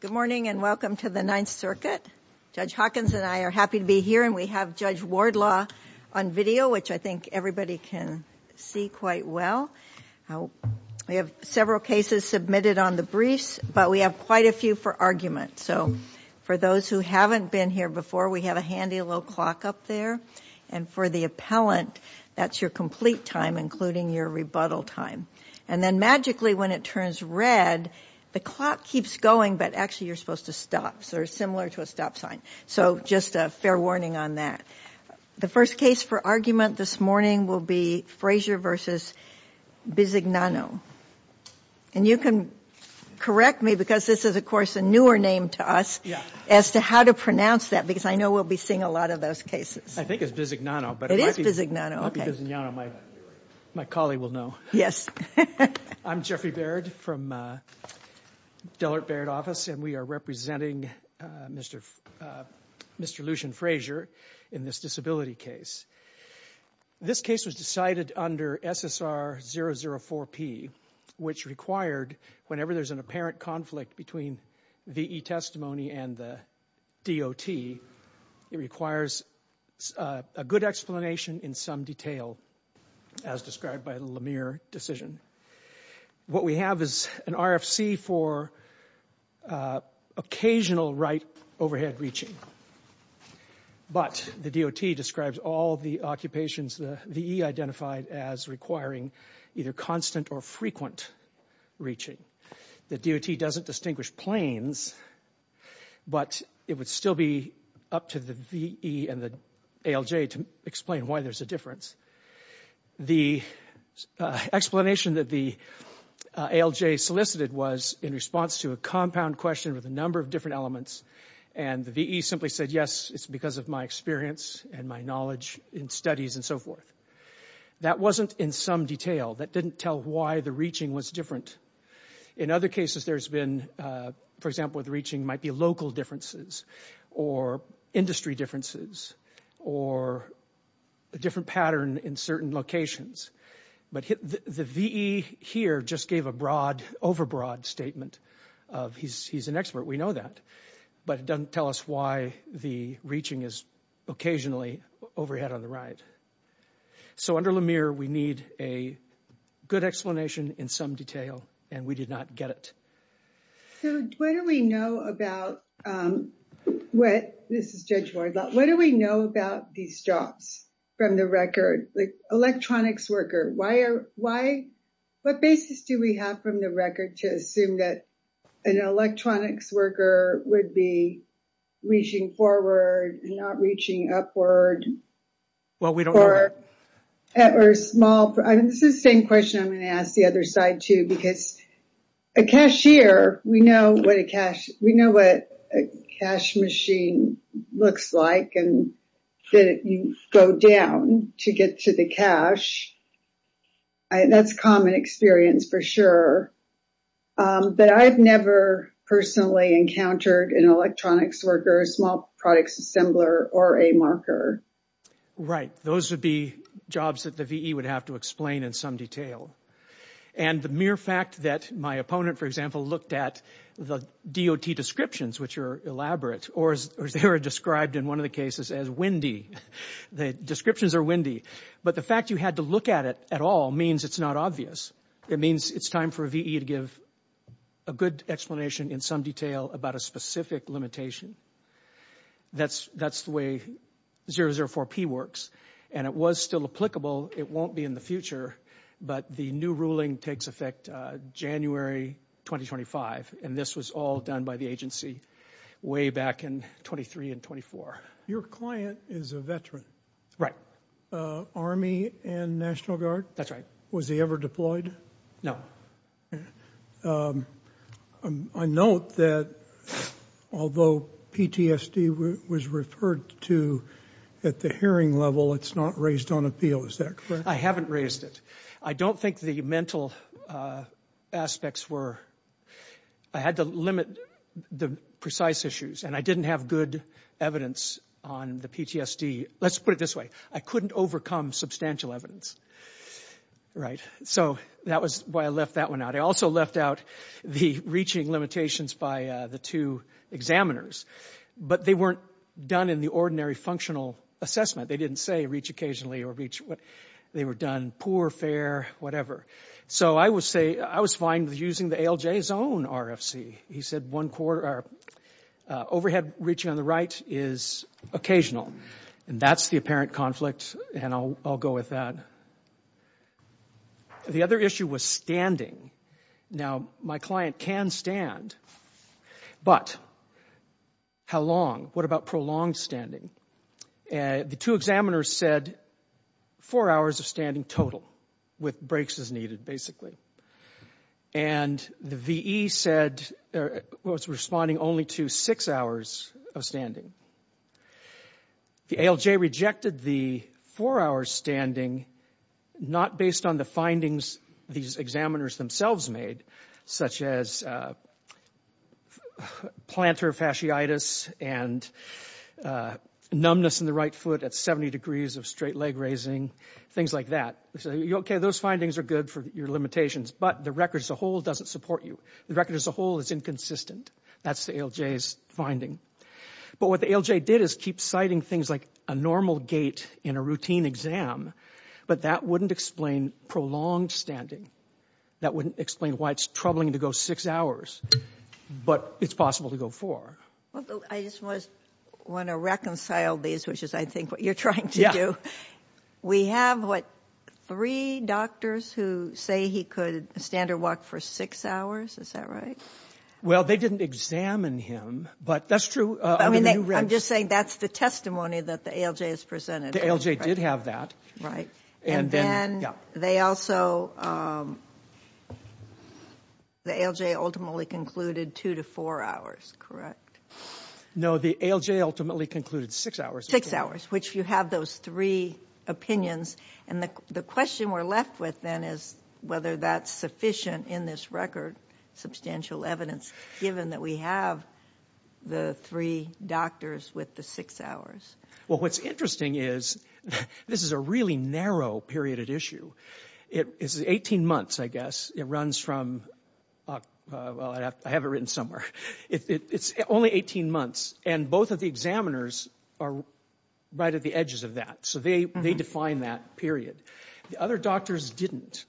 Good morning and welcome to the Ninth Circuit. Judge Hawkins and I are happy to be here and we have Judge Wardlaw on video, which I think everybody can see quite well. We have several cases submitted on the briefs, but we have quite a few for argument. So for those who haven't been here before, we have a handy little clock up there. And for the appellant, that's your complete time, including your rebuttal time. And then magically, when it turns red, the clock keeps going, but actually you're supposed to stop. So it's similar to a stop sign. So just a fair warning on that. The first case for argument this morning will be Frazier v. Bisignano. And you can correct me because this is, of course, a newer name to us as to how to pronounce that, because I know we'll be seeing a lot of those cases. I think it's Bisignano, but it might be Bisignano. My colleague will know. I'm Jeffrey Baird from the Dellert Baird office and we are representing Mr. Lucian Frazier in this disability case. This case was decided under SSR 004P, which required, whenever there's an apparent conflict between VE testimony and the DOT, it requires a good explanation in some detail, as described by the Lemire decision. What we have is an RFC for occasional right overhead reaching. But the DOT describes all the occupations the VE identified as requiring either constant or frequent reaching. The DOT doesn't distinguish planes, but it would still be up to the VE and the ALJ to explain why there's a difference. The explanation that the ALJ solicited was in response to a compound question with a number of different elements and the VE simply said yes, it's because of my experience and my knowledge in studies and so forth. That wasn't in some detail, that didn't tell why the reaching was different. In other cases there's been, for example, the reaching might be local differences or industry differences or a different pattern in certain locations. But the VE here just gave a broad, overbroad statement of he's an expert, we know that, but it doesn't tell us why the reaching is occasionally overhead on the right. So under Lemire, we need a good explanation in some detail and we did not get it. So what do we know about, this is Judge Ward, what do we know about these drops from the record? The electronics worker, what basis do we have from the record to assume that an electronics worker would be reaching forward and not reaching upward? Well, we don't know that. Or small, this is the same question I'm going to ask the other side too, because a cashier, we know what a cash machine looks like and that you go down to get to the cash. That's a common experience for sure. But I've never personally encountered an electronics worker, a small products assembler, or a marker. Right, those would be jobs that the VE would have to explain in some detail. And the mere fact that my opponent, for example, looked at the DOT descriptions, which are elaborate, or as they were described in one of the cases as windy, the descriptions are windy, but the fact you had to look at it at all means it's not obvious. It means it's time for a VE to give a good explanation in some detail about a specific limitation. That's the way 004P works. And it was still applicable, it won't be in the future, but the new ruling takes effect January 2025, and this was all done by the agency way back in 23 and 24. Your client is a veteran. Right. Army and National Guard? That's right. Was he ever deployed? No. I note that although PTSD was referred to at the hearing level, it's not raised on appeal, is that correct? I haven't raised it. I don't think the mental aspects were... I had to limit the precise issues, and I didn't have good evidence on the PTSD. Let's put it this way, I couldn't overcome substantial evidence. So that was why I left that one out. I also left out the reaching limitations by the two examiners, but they weren't done in the ordinary functional assessment. They didn't say reach occasionally or reach... They were done poor, fair, whatever. So I would say I was fine with using the ALJ's own RFC. He said overhead reaching on the right is occasional, and that's the apparent conflict, and I'll go with that. The other issue was standing. Now, my client can stand, but how long? What about prolonged standing? The two examiners said four hours of standing total, with breaks as needed, basically. And the VE said... Was responding only to six hours of standing. The ALJ rejected the four hours standing not based on the findings these examiners themselves made, such as plantar fasciitis and numbness in the right foot at 70 degrees of straight leg raising, things like that. They said, okay, those findings are good for your limitations, but the record as a whole doesn't support you. The record as a whole is inconsistent. That's the ALJ's finding. But what the ALJ did is keep citing things like a normal gait in a routine exam, but that wouldn't explain prolonged standing. That wouldn't explain why it's troubling to go six hours, but it's possible to go four. Well, I just want to reconcile these, which is, I think, what you're trying to do. Yeah. We have, what, three doctors who say he could stand or walk for six hours? Is that right? Well, they didn't examine him, but that's true. I'm just saying that's the testimony that the ALJ has presented. The ALJ did have that. Right. And then... The ALJ ultimately concluded two to four hours, correct? No, the ALJ ultimately concluded six hours. Six hours, which you have those three opinions. And the question we're left with then is whether that's sufficient in this record, substantial evidence, given that we have the three doctors with the six hours. Well, what's interesting is this is a really narrow period of issue. It's 18 months, I guess. It runs from, well, I have it written somewhere. It's only 18 months, and both of the examiners are right at the edges of that. So they define that period. The other doctors didn't.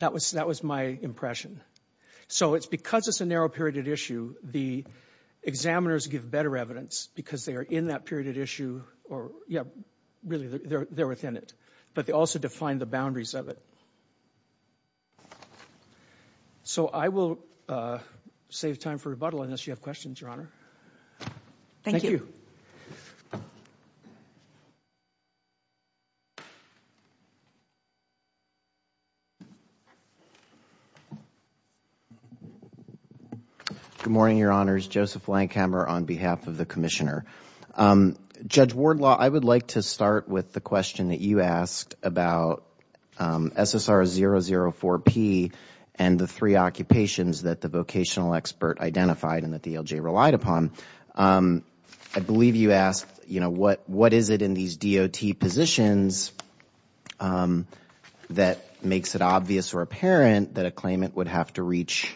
That was my impression. So it's because it's a narrow period of issue, the examiners give better evidence because they are in that period of issue or, yeah, really, they're within it. But they also define the boundaries of it. So I will save time for rebuttal unless you have questions, Your Honor. Thank you. Good morning, Your Honors. Joseph Lankhamer on behalf of the Commissioner. Judge Wardlaw, I would like to start with the question that you asked about SSR004P and the three occupations that the vocational expert identified and that the ALJ relied upon. I believe you asked, you know, what is it in these DOT positions that makes it obvious or apparent that a claimant would have to reach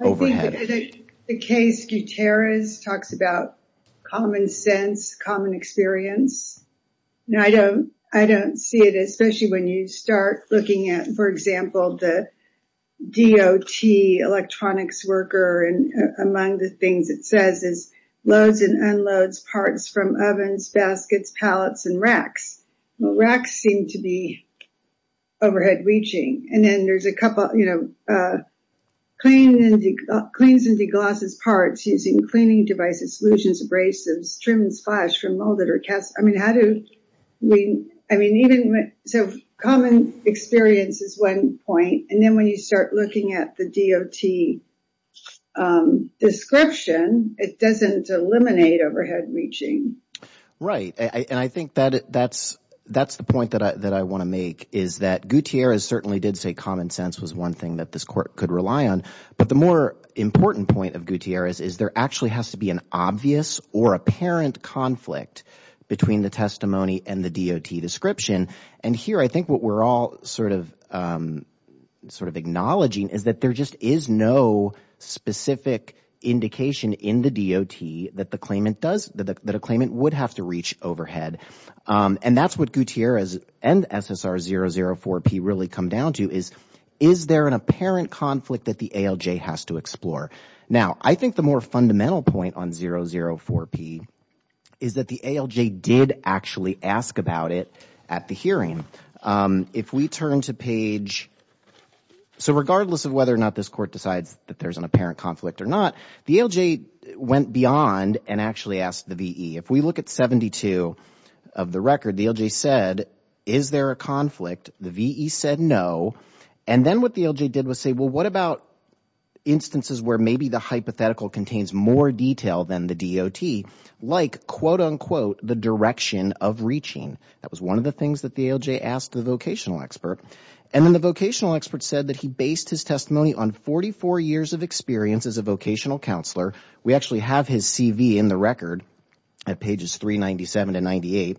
overhead? I think the case Gutierrez talks about common sense, common experience. I don't see it, especially when you start looking at, for example, the DOT electronics worker and among the things it says is loads and unloads parts from ovens, baskets, pallets, and racks. Racks seem to be overhead reaching. And then there's a couple, you know, cleans and deglosses parts using cleaning devices, solutions, abrasives, trims, flash from molded or cast. I mean, how do we, I mean, even, so common experience is one point. And then when you start looking at the DOT description, it doesn't eliminate overhead reaching. Right. And I think that's the point that I want to make is that Gutierrez certainly did say common sense was one thing that this court could rely on. But the more important point of Gutierrez is there actually has to be an obvious or apparent conflict between the testimony and the DOT description. And here I think what we're all sort of acknowledging is that there just is no specific indication in the DOT that a claimant would have to reach overhead. And that's what Gutierrez and SSR 004P really come down to is, is there an apparent conflict that the ALJ has to explore? Now, I think the more fundamental point on 004P is that the ALJ did actually ask about it at the hearing. If we turn to page, so regardless of whether or not this court decides that there's an apparent conflict or not, the ALJ went beyond and actually asked the VE. If we look at 72 of the record, the ALJ said, is there a conflict? The VE said no. And then what the ALJ did was say, well, what about instances where maybe the hypothetical contains more detail than the DOT? Like, quote unquote, the direction of reaching. That was one of the things that the ALJ asked the vocational expert. And then the vocational expert said that he based his testimony on 44 years of experience as a vocational counselor. We actually have his CV in the record at pages 397 to 98.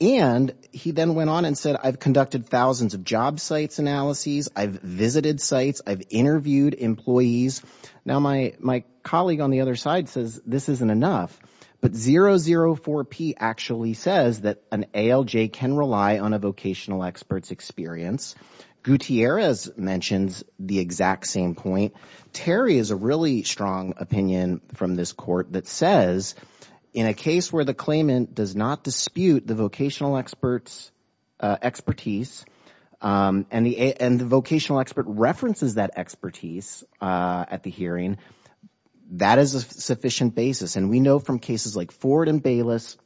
And he then went on and said, I've conducted thousands of job sites analyses. I've visited sites. I've interviewed employees. Now, my colleague on the other side says this isn't enough. But 004P actually says that an ALJ can rely on a vocational expert's experience. Gutierrez mentions the exact same point. Terry has a really strong opinion from this court that says in a case where the claimant does not dispute the vocational expert's expertise and the vocational expert references that expertise at the hearing, that is a sufficient basis. And we know from cases like Ford and Bayless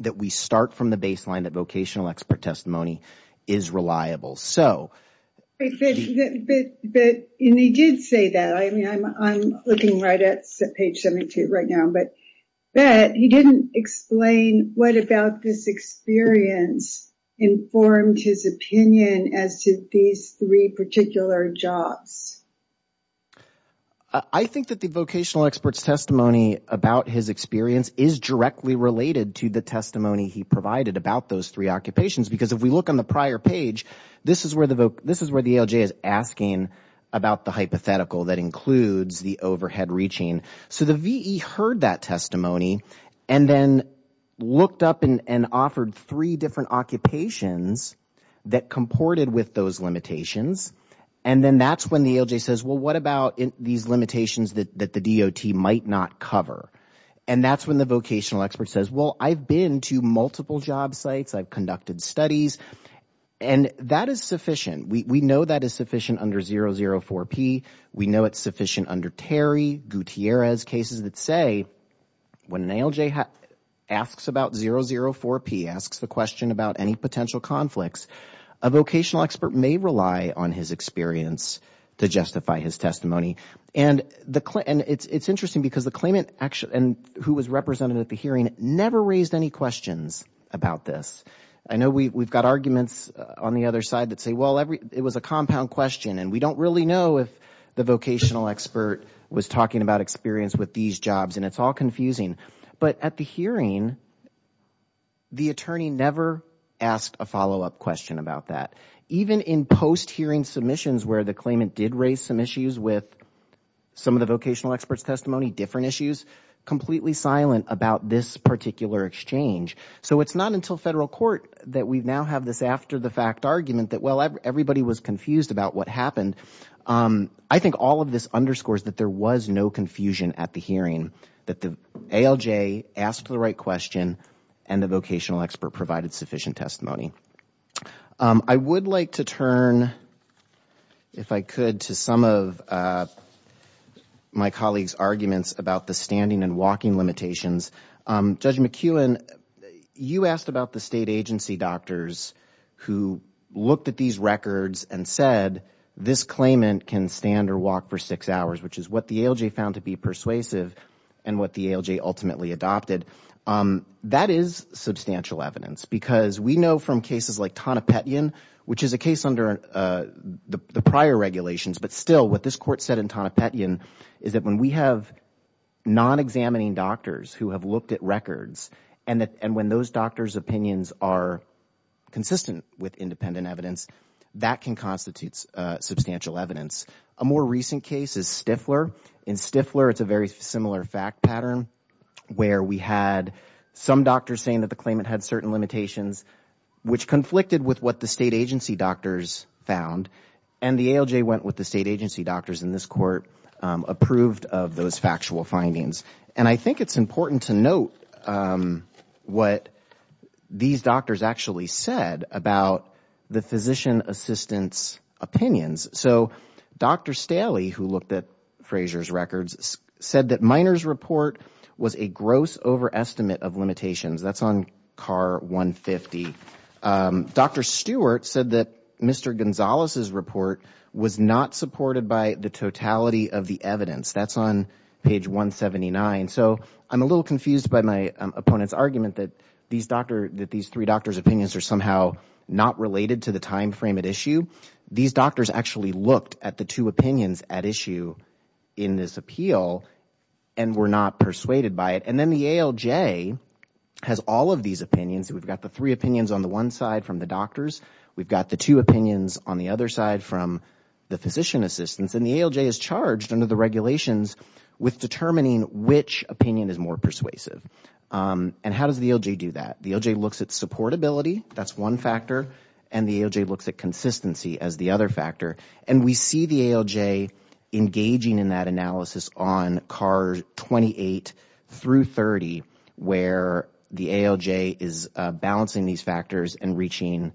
that we start from the baseline that vocational expert testimony is reliable. And he did say that. I mean, I'm looking right at page 72 right now. But he didn't explain what about this experience informed his opinion as to these three particular jobs. I think that the vocational expert's testimony about his experience is directly related to the testimony he provided about those three occupations. Because if we look on the prior page, this is where the ALJ is asking about the hypothetical that includes the overhead reaching. So the VE heard that testimony and then looked up and offered three different occupations that comported with those limitations. And then that's when the ALJ says, well, what about these limitations that the DOT might not cover? And that's when the vocational expert says, well, I've been to multiple job sites. I've conducted studies. And that is sufficient. We know that is sufficient under 004-P. We know it's sufficient under Terry, Gutierrez, cases that say when an ALJ asks about 004-P, asks the question about any potential conflicts, a vocational expert may rely on his experience to justify his testimony. And it's interesting because the claimant who was represented at the hearing never raised any questions about this. I know we've got arguments on the other side that say, well, it was a compound question. And we don't really know if the vocational expert was talking about experience with these jobs. And it's all confusing. But at the hearing, the attorney never asked a follow-up question about that. Even in post-hearing submissions where the claimant did raise some issues with some of the vocational expert's testimony, different issues, completely silent about this particular exchange. So it's not until federal court that we now have this after-the-fact argument that, well, everybody was confused about what happened. I think all of this underscores that there was no confusion at the hearing, that the ALJ asked the right question and the vocational expert provided sufficient testimony. I would like to turn, if I could, to some of my colleague's arguments about the standing and walking limitations. Judge McEwen, you asked about the state agency doctors who looked at these records and said, this claimant can stand or walk for six hours, which is what the ALJ found to be persuasive and what the ALJ ultimately adopted. That is substantial evidence. Because we know from cases like Tonopetian, which is a case under the prior regulations, but still what this court said in Tonopetian is that when we have non-examining doctors who have looked at records and when those doctors' opinions are consistent with independent evidence, that can constitute substantial evidence. A more recent case is Stifler. In Stifler, it's a very similar fact pattern where we had some doctors saying that the claimant had certain limitations, which conflicted with what the state agency doctors found. And the ALJ went with the state agency doctors in this court, approved of those factual findings. I think it's important to note what these doctors actually said about the physician assistant's opinions. Dr. Staley, who looked at Fraser's records, said that Miner's report was a gross overestimate of limitations. That's on car 150. Dr. Stewart said that Mr. Gonzalez's report was not supported by the totality of the evidence. That's on page 179. So I'm a little confused by my opponent's argument that these three doctors' opinions are somehow not related to the timeframe at issue. These doctors actually looked at the two opinions at issue in this appeal and were not persuaded by it. And then the ALJ has all of these opinions. We've got the three opinions on the one side from the doctors. We've got the two opinions on the other side from the physician assistants. And the ALJ is charged under the regulations with determining which opinion is more persuasive. And how does the ALJ do that? The ALJ looks at supportability. That's one factor. And the ALJ looks at consistency as the other factor. And we see the ALJ engaging in that analysis on car 28 through 30, where the ALJ is balancing these factors and reaching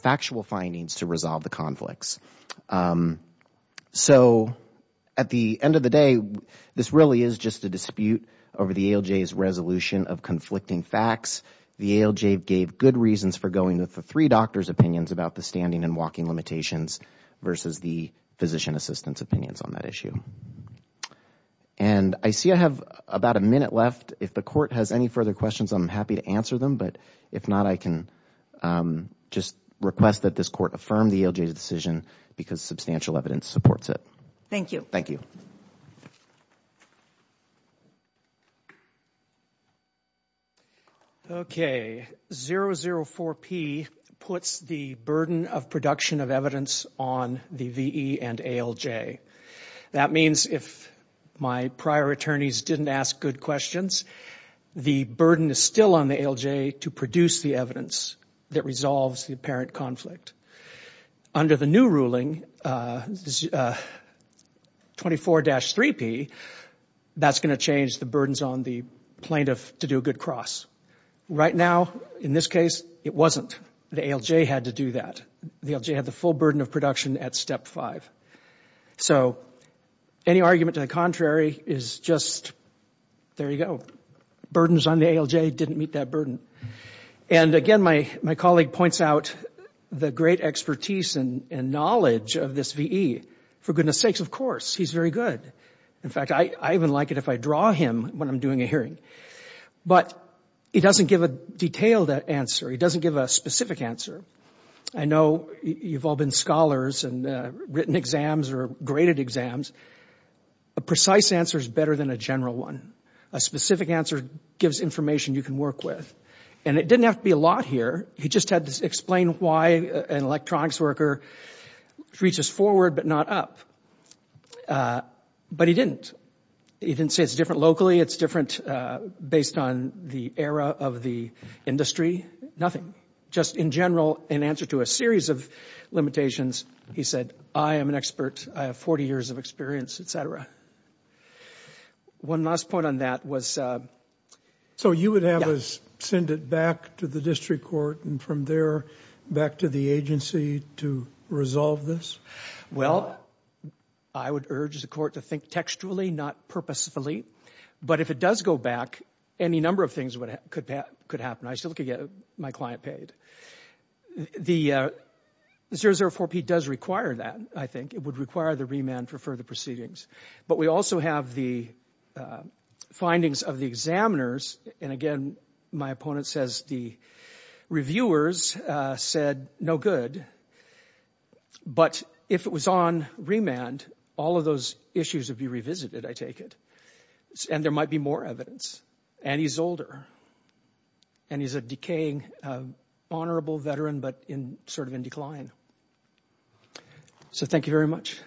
factual findings to resolve the conflicts. So at the end of the day, this really is just a dispute over the ALJ's resolution of conflicting facts. The ALJ gave good reasons for going with the three doctors' opinions about the standing and walking limitations versus the physician assistants' opinions on that issue. And I see I have about a minute left. If the court has any further questions, I'm happy to answer them. But if not, I can just request that this court affirm the ALJ's decision because substantial evidence supports it. Thank you. Thank you. Okay. 004P puts the burden of production of evidence on the VE and ALJ. That means if my prior attorneys didn't ask good questions, the burden is still on the ALJ to produce the evidence that resolves the apparent conflict. Under the new ruling, 24-3P, that's going to change the burdens on the plaintiff to do a good cross. Right now, in this case, it wasn't. The ALJ had to do that. The ALJ had the full burden of production at step five. So any argument to the contrary is just, there you go. Burdens on the ALJ didn't meet that burden. And again, my colleague points out the great expertise and knowledge of this VE. For goodness sakes, of course. He's very good. In fact, I even like it if I draw him when I'm doing a hearing. But he doesn't give a detailed answer. He doesn't give a specific answer. I know you've all been scholars and written exams or graded exams. A precise answer is better than a general one. A specific answer gives information you can work with. And it didn't have to be a lot here. He just had to explain why an electronics worker reaches forward but not up. But he didn't. He didn't say it's different locally, it's different based on the era of the industry. Nothing. Just in general, in answer to a series of limitations, he said, I am an expert. I have 40 years of experience, et cetera. One last point on that was... So you would have us send it back to the district court and from there back to the agency to resolve this? Well, I would urge the court to think textually, not purposefully. But if it does go back, any number of things could happen. I still could get my client paid. The 004P does require that, I think. It would require the remand for further proceedings. But we also have the findings of the examiners. And again, my opponent says the reviewers said no good. But if it was on remand, all of those issues would be revisited, I take it. And there might be more evidence. And he's older. And he's a decaying, honorable veteran but sort of in decline. So thank you very much.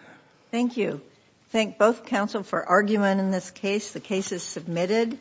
Thank you. Thank both counsel for argument in this case. The case is submitted.